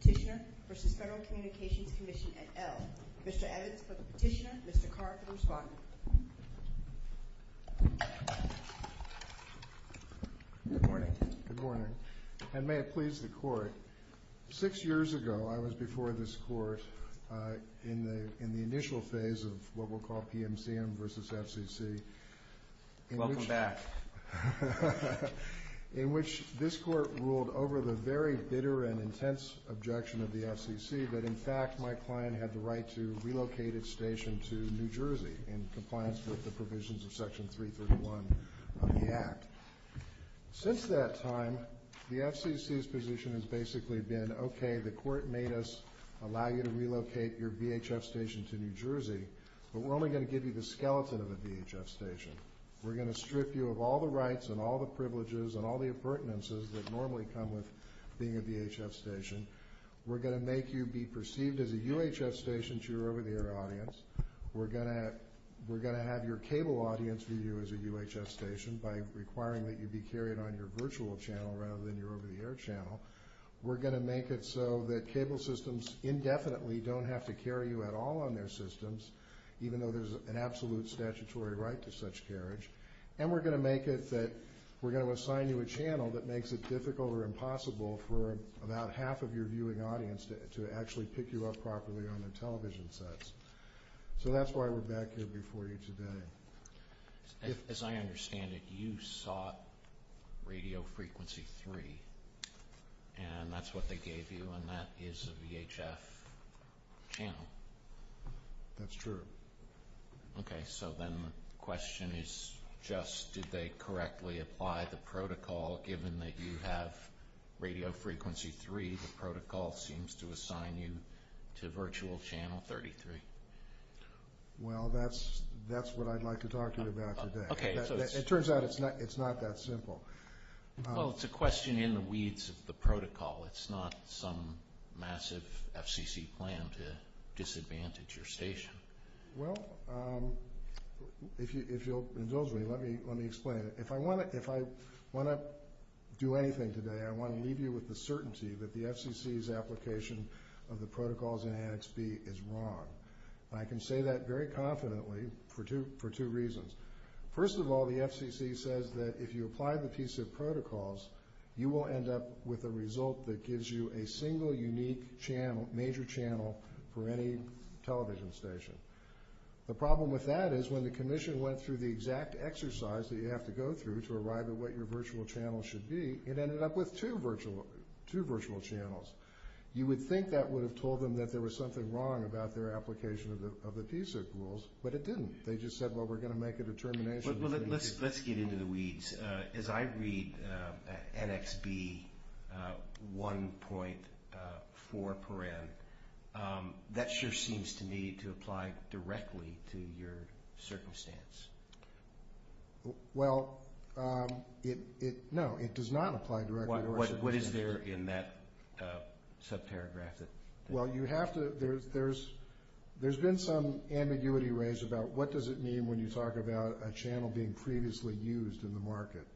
Petitioner v. Federal Communications Commission, et al. Mr. Evans for the petitioner, Mr. Carr for the respondent. Good morning. Good morning. And may it please the court, six years ago I was before this court in the initial phase of what we'll call PMCM v. FCC. Welcome back. In which this court ruled over the very bitter and intense objection of the FCC that in fact my client had the right to relocate its station to New Jersey in compliance with the provisions of Section 331 of the Act. Since that time, the FCC's position has basically been, okay, the court made us allow you to relocate your VHF station to New Jersey, but we're only going to give you the skeleton of a VHF station. We're going to strip you of all the rights and all the privileges and all the appurtenances that normally come with being a VHF station. We're going to make you be perceived as a UHF station to your over-the-air audience. We're going to have your cable audience view you as a UHF station by requiring that you be carried on so that cable systems indefinitely don't have to carry you at all on their systems, even though there's an absolute statutory right to such carriage. And we're going to make it that we're going to assign you a channel that makes it difficult or impossible for about half of your viewing audience to actually pick you up properly on the television sets. So that's why we're back here before you today. As I understand it, you sought radio frequency three, and that's what they gave you, and that is a VHF channel. That's true. Okay, so then the question is just, did they correctly apply the protocol given that you have radio frequency three? The protocol seems to assign you to virtual channel 33. Well, that's what I'd like to talk to you about today. It turns out it's not that simple. Well, it's a question in the weeds of the protocol. It's not some massive FCC plan to disadvantage your station. Well, if you'll indulge me, let me explain it. If I want to do anything today, I want to leave you with the certainty that the FCC's application of the protocols in Annex B is wrong. I can say that very confidently for two reasons. First of all, the FCC says that if you apply the piece of protocols, you will end up with a result that gives you a single unique channel, major channel, for any television station. The problem with that is when the Commission went through the exact exercise that you have to go through to arrive at what your virtual channel should be, it ended up with two virtual channels. You would think that would have told them that there was something wrong about their application of the piece of rules, but it didn't. They just said, well, we're going to make a determination. Let's get into the weeds. As I read Annex B 1.4, that sure seems to me to apply directly to your circumstance. Well, no, it does not apply directly. What is there in that subparagraph? Well, there's been some ambiguity raised about what does it mean when you talk about a channel being previously used in the market.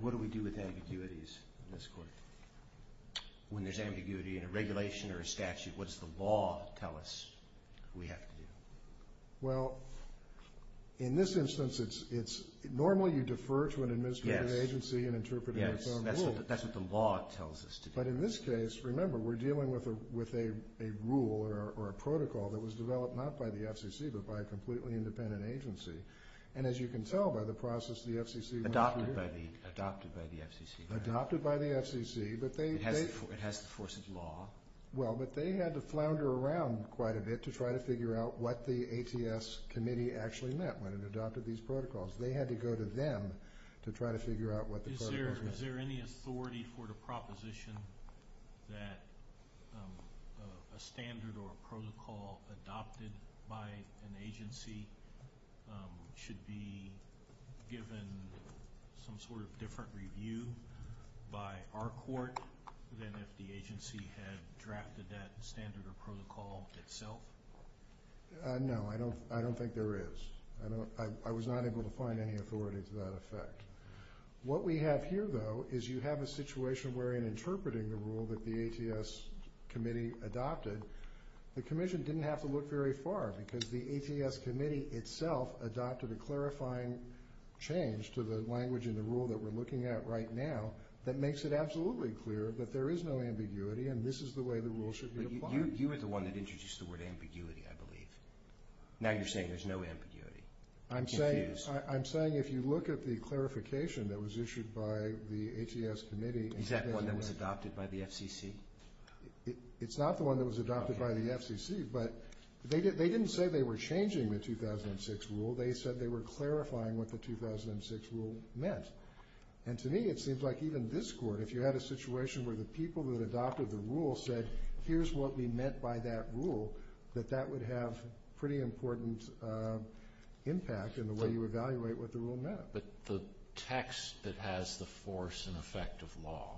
What do we do with ambiguities in this court? When there's ambiguity in a regulation or a statute, what does the law tell us we have to do? Well, in this instance, normally you defer to an administrative agency in interpreting its own rules. That's what the law tells us to do. But in this case, remember, we're dealing with a rule or a protocol that was developed not by the FCC, but by a completely independent agency. And as you can tell by the process, the FCC adopted by the FCC, but it has the force of law. Well, but they had to flounder around quite a bit to try to figure out what the ATS committee actually meant when it adopted these protocols. They had to go to them to try to figure out what the protocols were. Is there any authority for the proposition that a standard or a protocol adopted by an agency should be given some sort of different review by our court than if the agency had drafted that standard or protocol itself? No, I don't think there is. I don't, I was not able to find any authority to that effect. What we have here, though, is you have a situation where in interpreting the rule that the ATS committee adopted, the commission didn't have to look very far because the ATS committee itself adopted a clarifying change to the language and the rule that we're looking at right now that makes it absolutely clear that there is no ambiguity and this is the way the rule should be applied. You were the one that introduced the word ambiguity, I believe. Now you're saying there's no ambiguity. I'm saying if you look at the clarification that was issued by the ATS committee. Is that one that was adopted by the FCC? It's not the one that was adopted by the FCC, but they didn't say they were changing the 2006 rule. They said they were clarifying what the 2006 rule meant. And to me, it seems like even this court, if you had a situation where the people that adopted the rule were met by that rule, that that would have pretty important impact in the way you evaluate what the rule meant. But the text that has the force and effect of law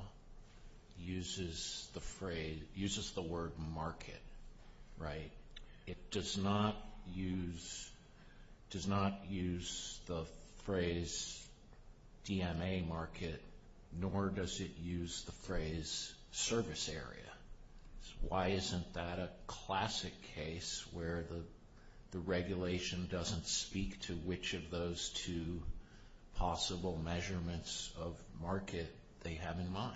uses the phrase, uses the word market, right? It does not use, does not use the phrase DMA market, nor does it use the phrase service area. Why isn't that a classic case where the regulation doesn't speak to which of those two possible measurements of market they have in mind?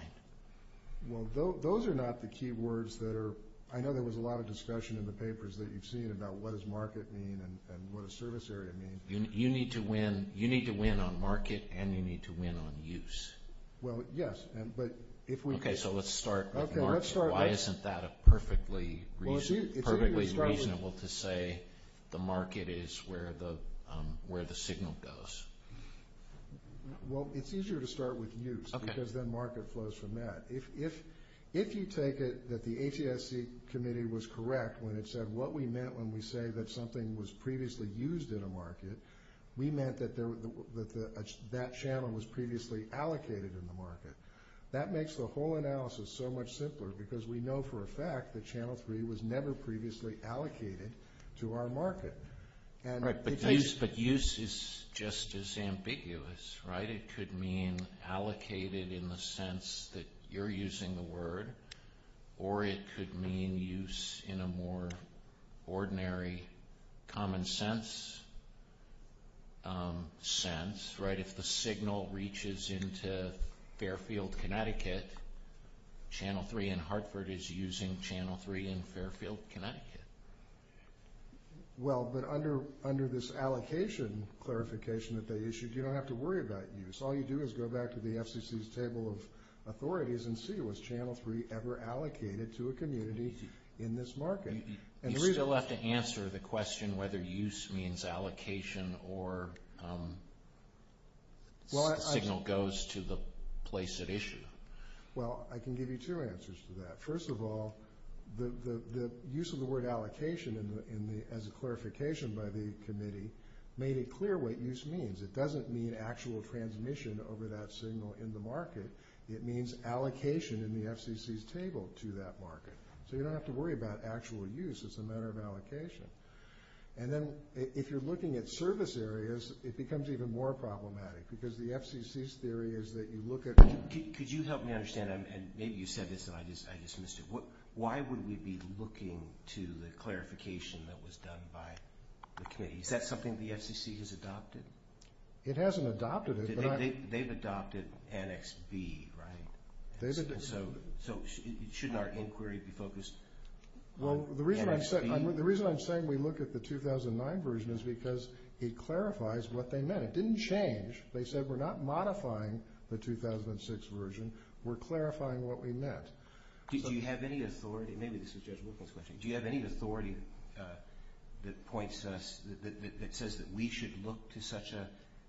Well, those are not the key words that are, I know there was a lot of discussion in the papers that you've seen about what does market mean and what does service area mean. You need to win on market and you need to win on use. Well, yes, but if we... Okay, so let's start with market. Why isn't that a perfectly reasonable to say the market is where the signal goes? Well, it's easier to start with use because then market flows from that. If you take it that the ATSC committee was correct when it said what we meant when we say that something was previously used in a market, we meant that that channel was previously allocated in the market. That makes the whole analysis so much simpler because we know for a fact that channel three was never previously allocated to our market. Right, but use is just as ambiguous, right? It could mean allocated in the sense that you're using the word or it could mean use in a more ordinary common sense, right? If the signal reaches into Fairfield, Connecticut, channel three in Hartford is using channel three in Fairfield, Connecticut. Well, but under this allocation clarification that they issued, you don't have to worry about use. All you do is go back to the FCC's table of authorities and see was channel three ever allocated to a community in this market. You still have to answer the question whether use means allocation or the signal goes to the place it issued. Well, I can give you two answers to that. First of all, the use of the word allocation as a clarification by the committee made it clear what use means. It doesn't mean actual transmission over that signal in the market. It means allocation in the FCC's table to that market. So you don't have to worry about actual use. It's a and then if you're looking at service areas, it becomes even more problematic because the FCC's theory is that you look at... Could you help me understand? And maybe you said this and I just I just missed it. Why would we be looking to the clarification that was done by the committee? Is that something the FCC has adopted? It hasn't adopted it. They've adopted annex B, right? So shouldn't our inquiry be focused on annex B? Well, the reason I'm saying we look at the 2009 version is because it clarifies what they meant. It didn't change. They said we're not modifying the 2006 version. We're clarifying what we meant. Did you have any authority? Maybe this is Judge Wilkins' question. Do you have any authority that points to us that says that we should look to such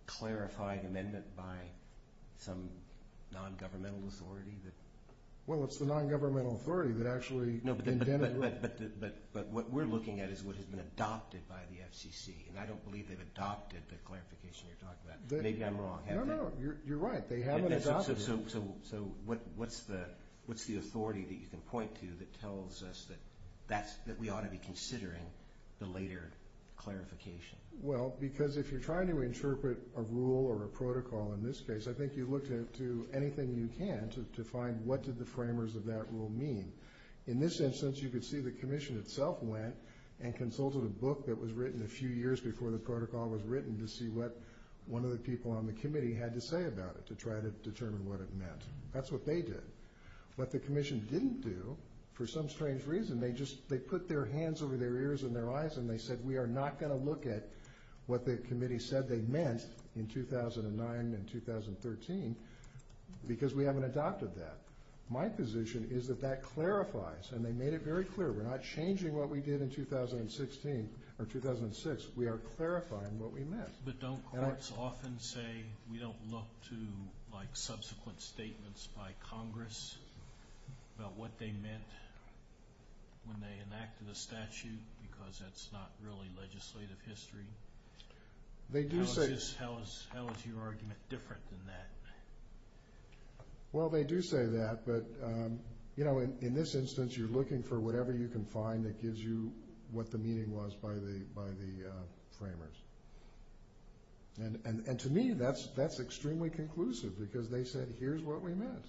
clarified amendment by some non-governmental authority? Well, it's the non-governmental authority that actually... No, but what we're looking at is what has been adopted by the FCC, and I don't believe they've adopted the clarification you're talking about. Maybe I'm wrong. No, no. You're right. They haven't adopted it. So what's the authority that you can point to that tells us that we ought to be considering the later clarification? Well, because if you're trying to interpret a rule or a protocol in this case, I think you look to anything you can to find what did the framers of that rule mean. In this instance, you could see the commission itself went and consulted a book that was written a few years before the protocol was written to see what one of the people on the committee had to say about it to try to determine what it meant. That's what they did. What the commission didn't do, for some strange reason, they just... They put their hands over their ears and their eyes and they said we are not going to what the committee said they meant in 2009 and 2013 because we haven't adopted that. My position is that that clarifies, and they made it very clear, we're not changing what we did in 2016 or 2006. We are clarifying what we meant. But don't courts often say we don't look to like subsequent statements by Congress about what they meant when they enacted the statute because that's not really legislative history? How is your argument different than that? Well, they do say that, but in this instance, you're looking for whatever you can find that gives you what the meaning was by the framers. And to me, that's extremely conclusive because they said here's what we meant.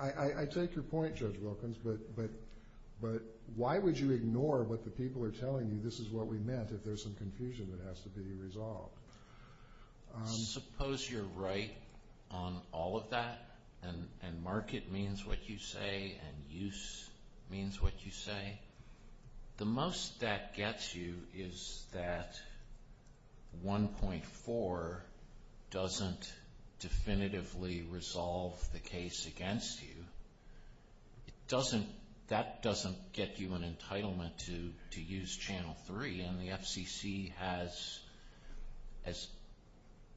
I take your point, Judge Wilkins, but why would you ignore what the people are telling you this is what we meant if there's some confusion that has to be resolved? Suppose you're right on all of that and market means what you say and use means what you resolve the case against you. That doesn't get you an entitlement to use Channel 3, and the FCC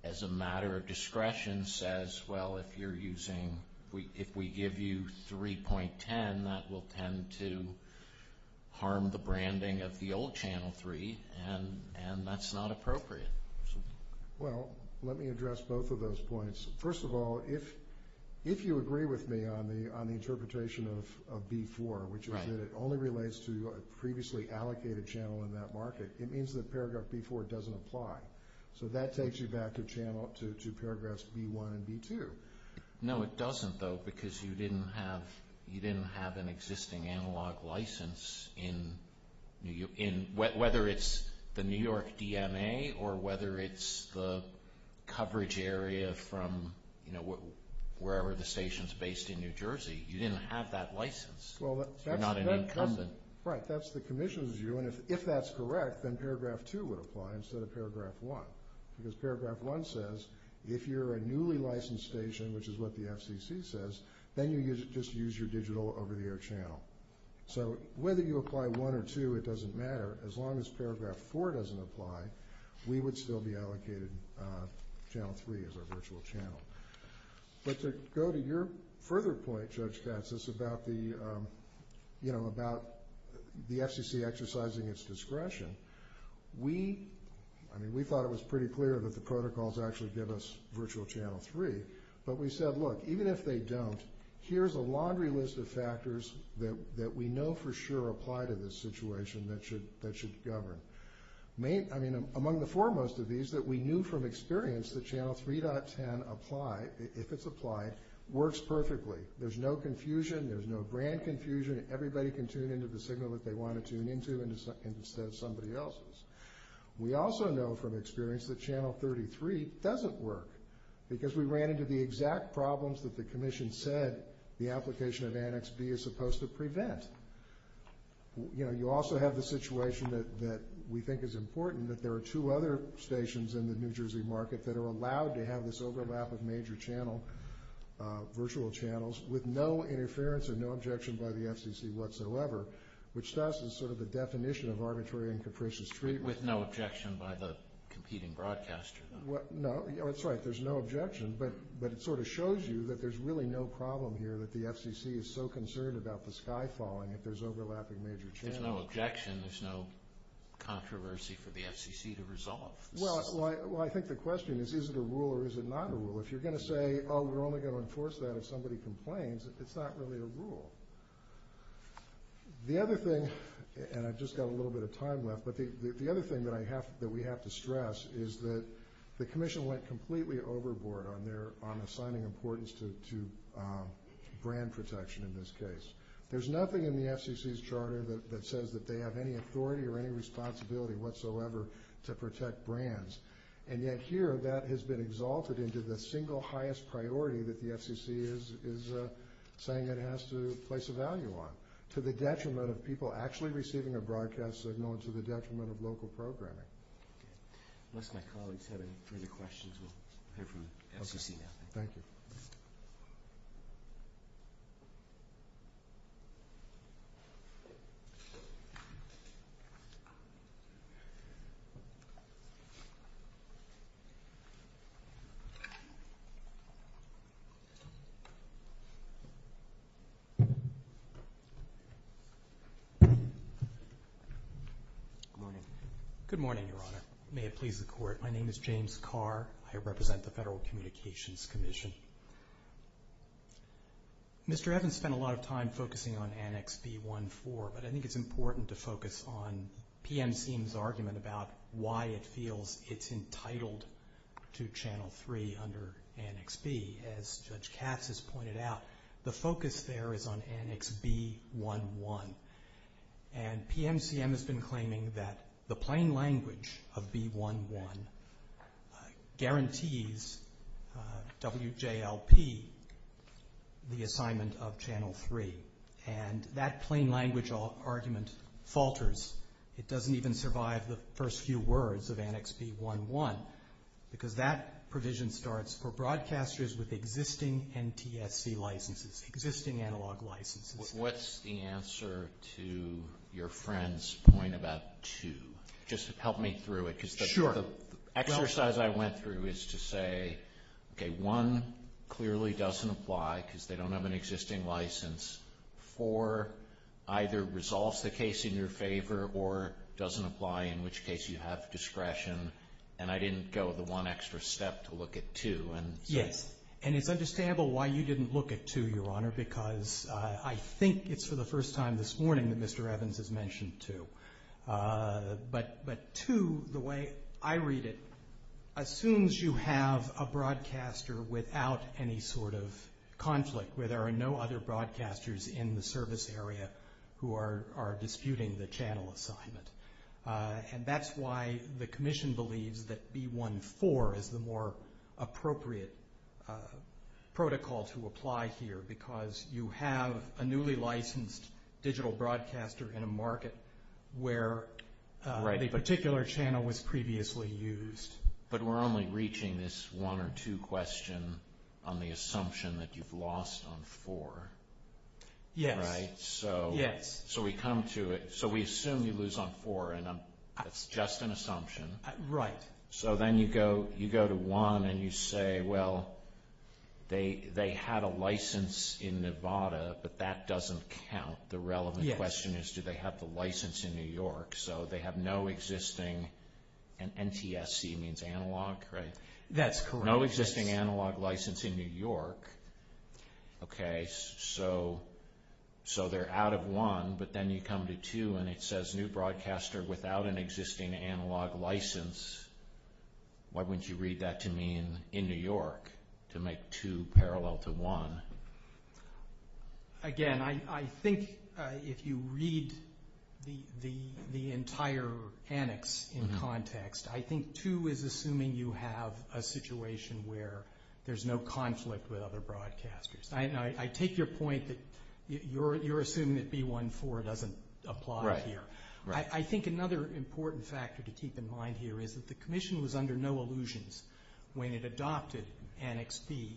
as a matter of discretion says, well, if we give you 3.10, that will tend to harm the branding of the old Channel 3, and that's not appropriate. Well, let me address both of those points. First of all, if you agree with me on the interpretation of B4, which is that it only relates to a previously allocated channel in that market, it means that paragraph B4 doesn't apply. So that takes you back to paragraphs B1 and B2. No, it doesn't, though, because you didn't have an existing analog license, whether it's the New York DMA or whether it's the coverage area from wherever the station's based in New Jersey. You didn't have that license. You're not an incumbent. Right. That's the commission's view, and if that's correct, then paragraph 2 would apply instead of paragraph 1, because paragraph 1 says if you're a newly licensed station, which is what the FCC says, then you just use your digital over-the-air channel. So whether you apply 1 or 2, it doesn't matter. As long as paragraph 4 doesn't apply, we would still be allocated Channel 3 as our virtual channel. But to go to your further point, Judge Katz, about the FCC exercising its discretion, we thought it was pretty clear that the protocols actually give us even if they don't, here's a laundry list of factors that we know for sure apply to this situation that should govern. I mean, among the foremost of these that we knew from experience that Channel 3.10 applied, if it's applied, works perfectly. There's no confusion. There's no grand confusion. Everybody can tune into the signal that they want to tune into instead of somebody else's. We also know from experience that Channel 33 doesn't work, because we ran into the exact problems that the Commission said the application of Annex B is supposed to prevent. You also have the situation that we think is important, that there are two other stations in the New Jersey market that are allowed to have this overlap of major virtual channels with no interference and no objection by the FCC whatsoever, which thus is sort of the definition of arbitrary and capricious treatment. With no objection by the but it sort of shows you that there's really no problem here that the FCC is so concerned about the sky falling if there's overlapping major channels. There's no objection. There's no controversy for the FCC to resolve. Well, I think the question is, is it a rule or is it not a rule? If you're going to say, oh, we're only going to enforce that if somebody complains, it's not really a rule. The other thing, and I've just got a little bit of time left, but the other thing that we have to stress is that the Commission went completely overboard on assigning importance to brand protection in this case. There's nothing in the FCC's charter that says that they have any authority or any responsibility whatsoever to protect brands, and yet here that has been exalted into the single highest priority that the FCC is saying it has to place a value on, to the detriment of people actually receiving a broadcast signal and to the detriment of local programming. Unless my colleagues have any further questions, we'll hear from the FCC now. Thank you. Good morning, Your Honor. May it please the Court. My name is James Carr. I represent the Federal Commission. Mr. Evans spent a lot of time focusing on Annex B-1-4, but I think it's important to focus on PMCM's argument about why it feels it's entitled to Channel 3 under Annex B. As Judge Katz has pointed out, the focus there is on Annex B-1-1, and PMCM has been claiming that the plain of B-1-1 guarantees WJLP the assignment of Channel 3, and that plain language argument falters. It doesn't even survive the first few words of Annex B-1-1, because that provision starts for broadcasters with existing NTSC licenses, existing analog licenses. What's the answer to your question? The exercise I went through is to say, okay, 1 clearly doesn't apply because they don't have an existing license. 4 either resolves the case in your favor or doesn't apply, in which case you have discretion, and I didn't go the one extra step to look at 2. It's understandable why you didn't look at 2, Your Honor, because I think it's for the first time this morning that Mr. 2, the way I read it, assumes you have a broadcaster without any sort of conflict, where there are no other broadcasters in the service area who are disputing the channel assignment, and that's why the Commission believes that B-1-4 is the more appropriate protocol to apply here, because you have a newly licensed digital broadcaster in a market where the particular channel was previously used. But we're only reaching this 1 or 2 question on the assumption that you've lost on 4, right? Yes. So we come to it, so we assume you lose on 4, and that's just an assumption. Right. So then you go to 1, and you say, well, they had a license in Nevada, but that doesn't count. The relevant question is, do they have the license in New York? So they have no existing, and NTSC means analog, right? That's correct. No existing analog license in New York, okay, so they're out of 1, but then you come to 2, and it says new broadcaster without an existing analog license. Why wouldn't you read that to me in New York to make 2 parallel to 1? Again, I think if you read the entire annex in context, I think 2 is assuming you have a situation where there's no conflict with other broadcasters. I take your point that you're important factor to keep in mind here is that the commission was under no illusions when it adopted Annex B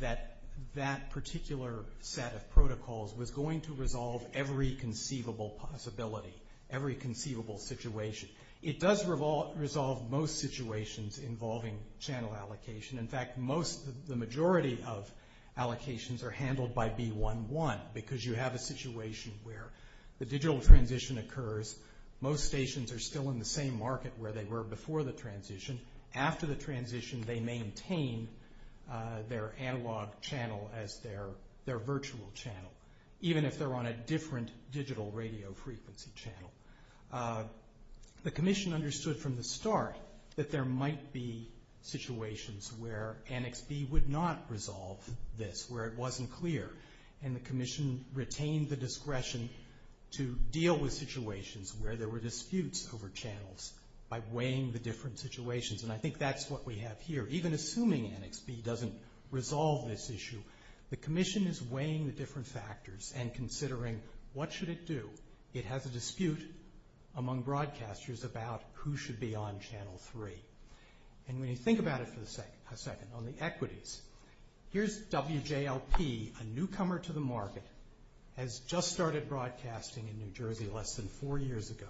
that that particular set of protocols was going to resolve every conceivable possibility, every conceivable situation. It does resolve most situations involving channel allocation. In fact, the majority of allocations are handled by B1.1 because you have a situation where the digital transition occurs. Most stations are still in the same market where they were before the transition. After the transition, they maintain their analog channel as their virtual channel, even if they're on a different digital radio frequency channel. The commission understood from the start that there might be situations where Annex B would not resolve this, where it wasn't clear. The commission retained the discretion to deal with situations where there were disputes over channels by weighing the different situations. I think that's what we have here. Even assuming Annex B doesn't resolve this issue, the commission is weighing the different factors and considering what should it do. It has a dispute among broadcasters about who should be on channel 3. When you think about it for a second, on the equities, here's WJLP, a newcomer to the market, has just started broadcasting in New Jersey less than four years ago.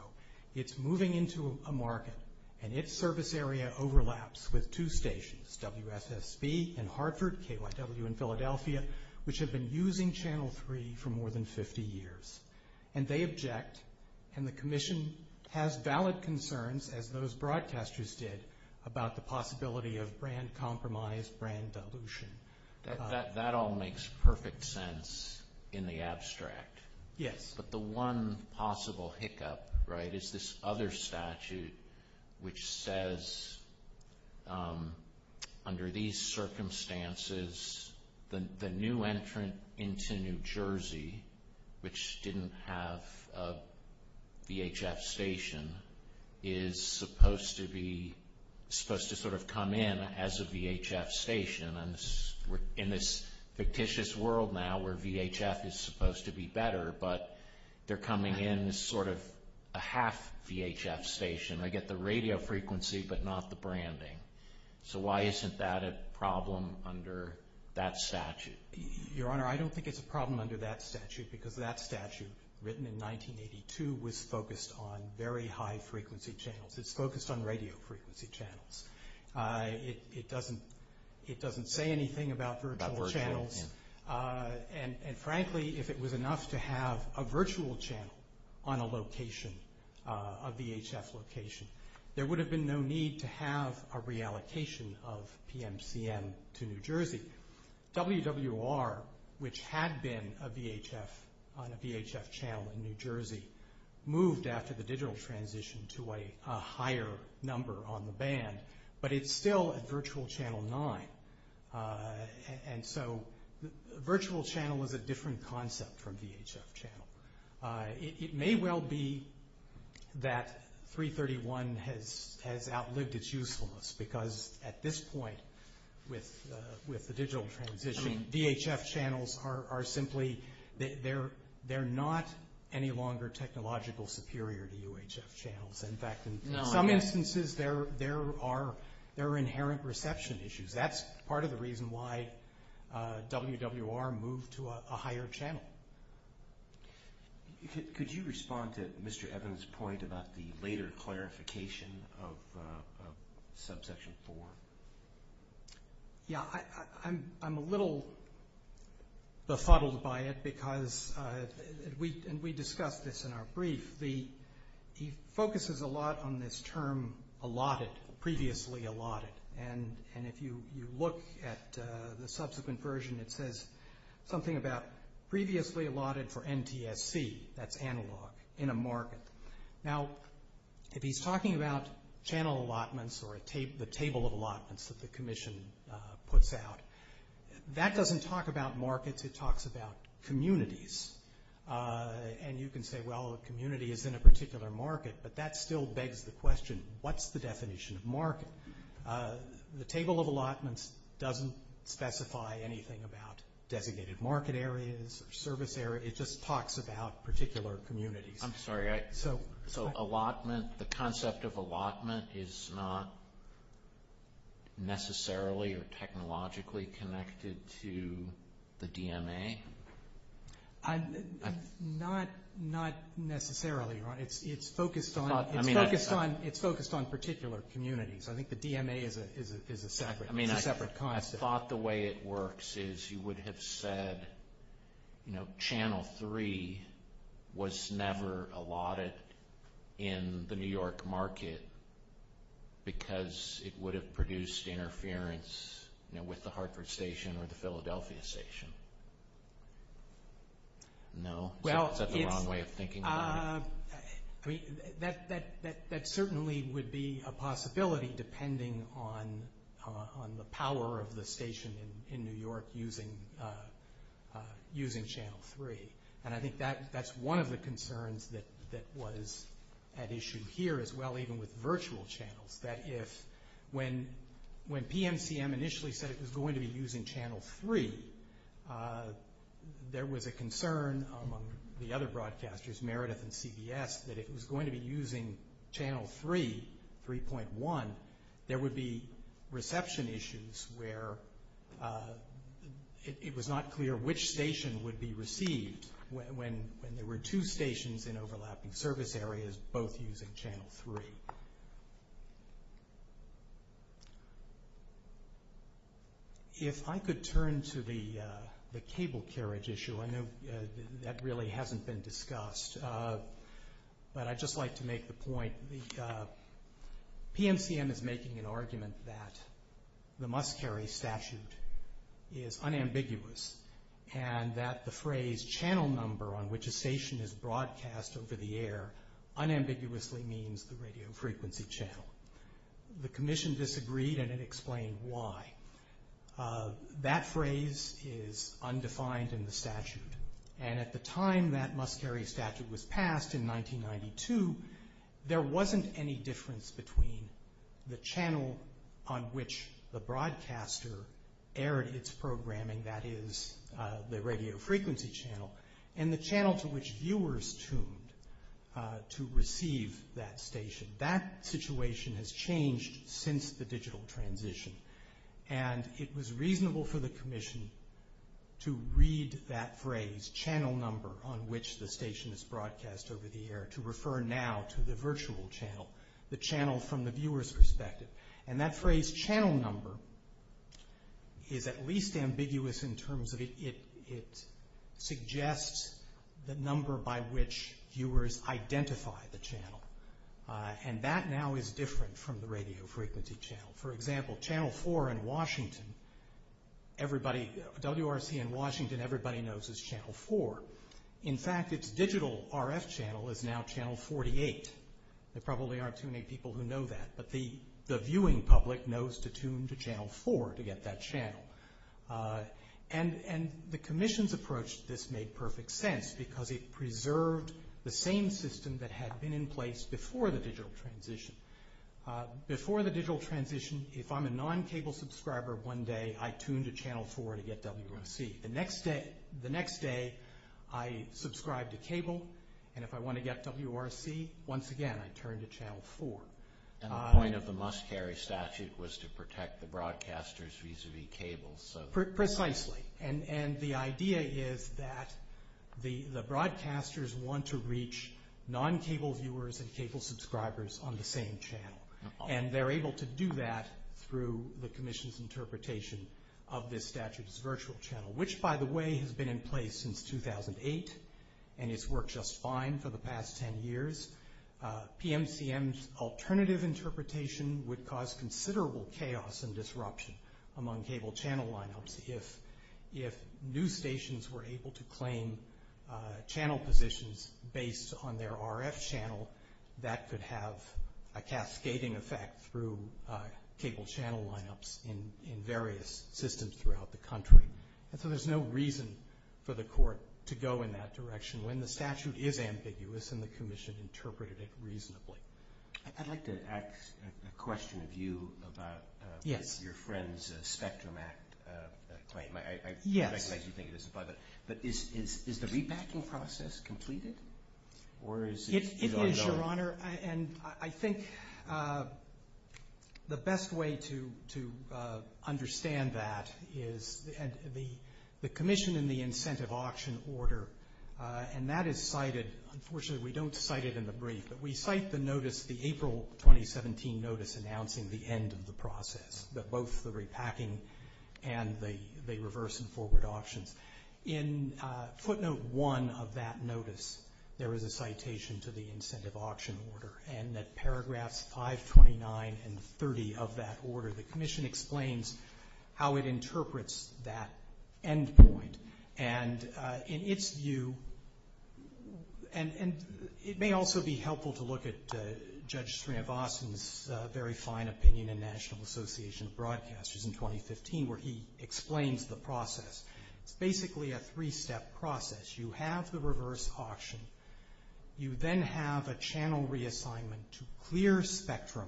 It's moving into a market, and its service area overlaps with two stations, WSSB in Hartford, KYW in Philadelphia, which have been using channel 3 for more than 50 years. And they object, and the commission has valid concerns, as those broadcasters did, about the dilution. That all makes perfect sense in the abstract. Yes. But the one possible hiccup, right, is this other statute which says, under these circumstances, the new entrant into New I'm in this fictitious world now where VHF is supposed to be better, but they're coming in as sort of a half VHF station. I get the radio frequency, but not the branding. So why isn't that a problem under that statute? Your Honor, I don't think it's a problem under that statute, because that statute, written in 1982, was focused on very high frequency channels. It's focused on radio frequency. It doesn't say anything about virtual channels. And frankly, if it was enough to have a virtual channel on a location, a VHF location, there would have been no need to have a reallocation of PMCM to New Jersey. WWR, which had been a VHF on a VHF channel in New Jersey, moved after the digital transition to a higher number on the band. But it's still a virtual channel nine. And so virtual channel is a different concept from VHF channel. It may well be that 331 has outlived its usefulness, because at this point, with the digital transition, VHF channels are simply, they're not any longer technological superior to UHF channels. In fact, some instances, there are inherent reception issues. That's part of the reason why WWR moved to a higher channel. Could you respond to Mr. Evans' point about the later clarification of subsection four? Yeah, I'm a little befuddled by it, because we discussed this in our brief. He focuses a lot on this term allotted, previously allotted. And if you look at the subsequent version, it says something about previously allotted for NTSC, that's analog, in a market. Now, if he's talking about channel allotments or the table of allotments that the commission puts out, that doesn't talk about markets, it talks about communities. And you can say, well, a community is in a particular market, but that still begs the question, what's the definition of market? The table of allotments doesn't specify anything about designated market areas or service areas, it just talks about particular communities. I'm sorry, so allotment, the concept of allotment is not necessarily or technologically connected to the DMA? Not necessarily, Ron. It's focused on particular communities. I think the DMA is a separate concept. I thought the way it works is you would have said, channel three was never allotted in the New York market, because it would have produced interference with the Hartford station or the Philadelphia station. No? Is that the wrong way of thinking? That certainly would be a possibility, depending on the power of the station in New York using channel three. And I think that's one of the concerns that was at issue here as well, even with virtual channels, that if, when PMCM initially said it was going to be using channel three, there was a concern among the other broadcasters, Meredith and CBS, that if it was going to be using channel three, 3.1, there would be reception issues where it was not clear which station would be received when there were two stations in overlapping service areas both using channel three. If I could turn to the cable carriage issue, I know that really hasn't been discussed, but I'd just like to make the point, PMCM is making an argument that the must-carry statute is unambiguous, and that the phrase channel number on which a station is broadcast over the air unambiguously means the radio frequency channel. The commission disagreed and it explained why. That phrase is undefined in the statute, and at the time that must-carry statute was passed in 1992, there wasn't any difference between the channel on which the broadcaster aired its programming, that is, the radio frequency channel, and the channel to which it was tuned to receive that station. That situation has changed since the digital transition, and it was reasonable for the commission to read that phrase, channel number, on which the station is broadcast over the air, to refer now to the virtual channel, the channel from the viewer's perspective. And that phrase channel number is at least ambiguous in terms of it suggests the number by which viewers identify the channel, and that now is different from the radio frequency channel. For example, channel four in Washington, everybody, WRC in Washington, everybody knows is channel four. In fact, its digital RF channel is now channel 48. There probably aren't too many people who know that, but the viewing public knows to tune to channel four to get that channel. And the commission's approach to this made perfect sense because it preserved the same system that had been in place before the digital transition. Before the digital transition, if I'm a non-cable subscriber one day, I tune to channel four to get WRC. The next day, the next day, I subscribe to cable, and if I want to get WRC, once again, I turn to channel four. And the point of the must-carry statute was to protect the broadcasters vis-a-vis cables. Precisely. And the idea is that the broadcasters want to reach non-cable viewers and cable subscribers on the same channel. And they're able to do that through the commission's interpretation of this statute's virtual channel, which, by the way, has been in place since 2008, and it's worked just fine for the past 10 years. PMCM's alternative interpretation would cause considerable chaos and disruption among cable channel lineups if news stations were able to claim channel positions based on their RF channel, that could have a cascading effect through cable channel lineups in various systems throughout the country. And so there's no reason for the direction when the statute is ambiguous and the commission interpreted it reasonably. I'd like to ask a question of you about your friend's Spectrum Act claim. Is the rebacking process completed, or is it ongoing? It is, Your Honor, and I think the best way to understand that is, and the commission in the incentive auction order and that is cited, unfortunately we don't cite it in the brief, but we cite the notice, the April 2017 notice announcing the end of the process, that both the repacking and the reverse and forward auctions. In footnote one of that notice, there is a citation to the incentive auction order, and at paragraphs 529 and 30 of that order, the commission explains how it works. And it may also be helpful to look at Judge Srinivasan's very fine opinion in National Association of Broadcasters in 2015 where he explains the process. It's basically a three-step process. You have the reverse auction. You then have a channel reassignment to clear Spectrum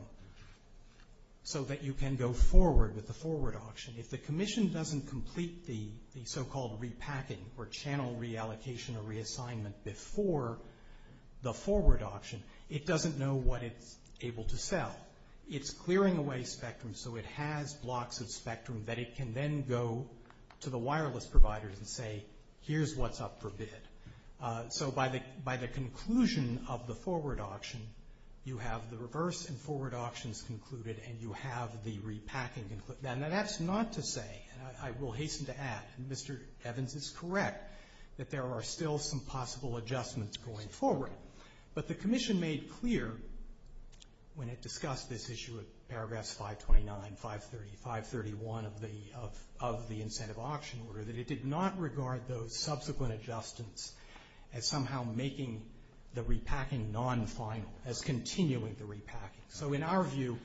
so that you can go forward with the forward auction. If the commission doesn't complete the so-called repacking or channel reallocation or reassignment before the forward auction, it doesn't know what it's able to sell. It's clearing away Spectrum so it has blocks of Spectrum that it can then go to the wireless providers and say, here's what's up for bid. So by the conclusion of the forward auction, you have the reverse and forward auctions concluded and you have the repacking concluded. Now, that's not to say, and I will hasten to add, Mr. Evans is correct that there are still some possible adjustments going forward. But the commission made clear when it discussed this issue at paragraphs 529, 530, 531 of the incentive auction order that it did not regard those subsequent adjustments as somehow making the repacking non-final, as continuing the repacking. So in our view,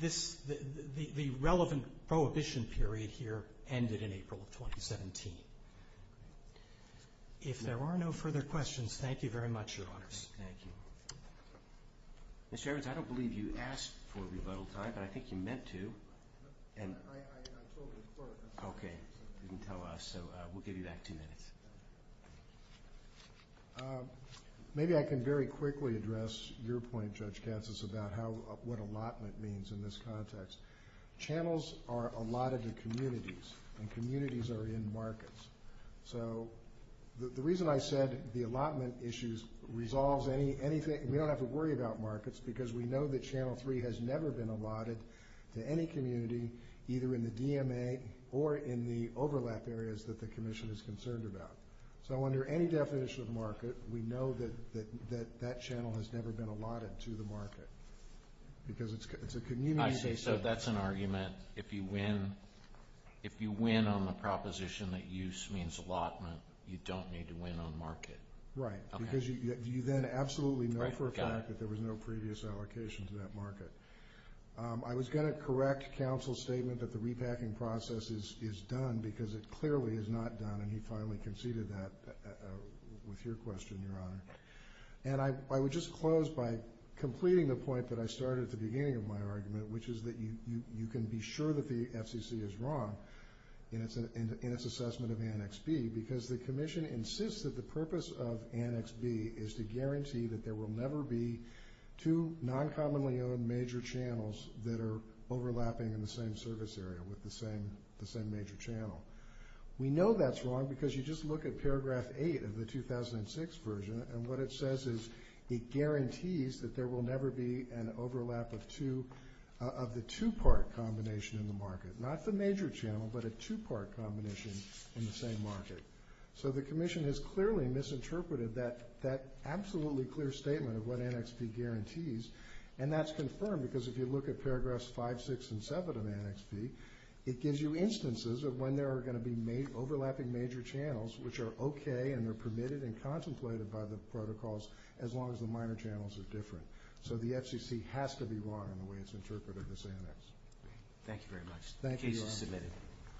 the relevant prohibition period here ended in April of 2017. If there are no further questions, thank you very much, Your Honors. Thank you. Mr. Evans, I don't believe you asked for rebuttal time, but I think you meant to. Okay, you didn't tell us, so we'll give you back two minutes. Maybe I can very quickly address your point, Judge Katsas, about what allotment means in this context. Channels are allotted to communities and communities are in markets. So the reason I said the allotment issues resolves anything, we don't have to worry about markets because we know that Channel 3 has never been allotted to any community, either in the DMA or in the overlap areas that the that channel has never been allotted to the market because it's a community. I see, so that's an argument. If you win on the proposition that use means allotment, you don't need to win on market. Right, because you then absolutely know for a fact that there was no previous allocation to that market. I was going to correct counsel's statement that the repacking process is done because it clearly is not done, and he finally conceded that with your question, Your Honor. And I would just close by completing the point that I started at the beginning of my argument, which is that you can be sure that the FCC is wrong in its assessment of Annex B because the Commission insists that the purpose of Annex B is to guarantee that there will never be two non-commonly owned major channels that are overlapping in the same service area with the same major channel. We know that's wrong because you just look at paragraph 8 of the 2006 version, and what it says is it guarantees that there will never be an overlap of the two-part combination in the market. Not the major channel, but a two-part combination in the same market. So the Commission has clearly misinterpreted that absolutely clear statement of what Annex B guarantees, and that's confirmed because if you look at paragraphs 5, 6, and 7 of Annex B, it gives you instances of when there are going to be overlapping major channels which are okay and they're permitted and contemplated by the protocols as long as the minor channels are different. So the FCC has to be wrong in the way it's interpreted this annex. Thank you very much. The case is submitted.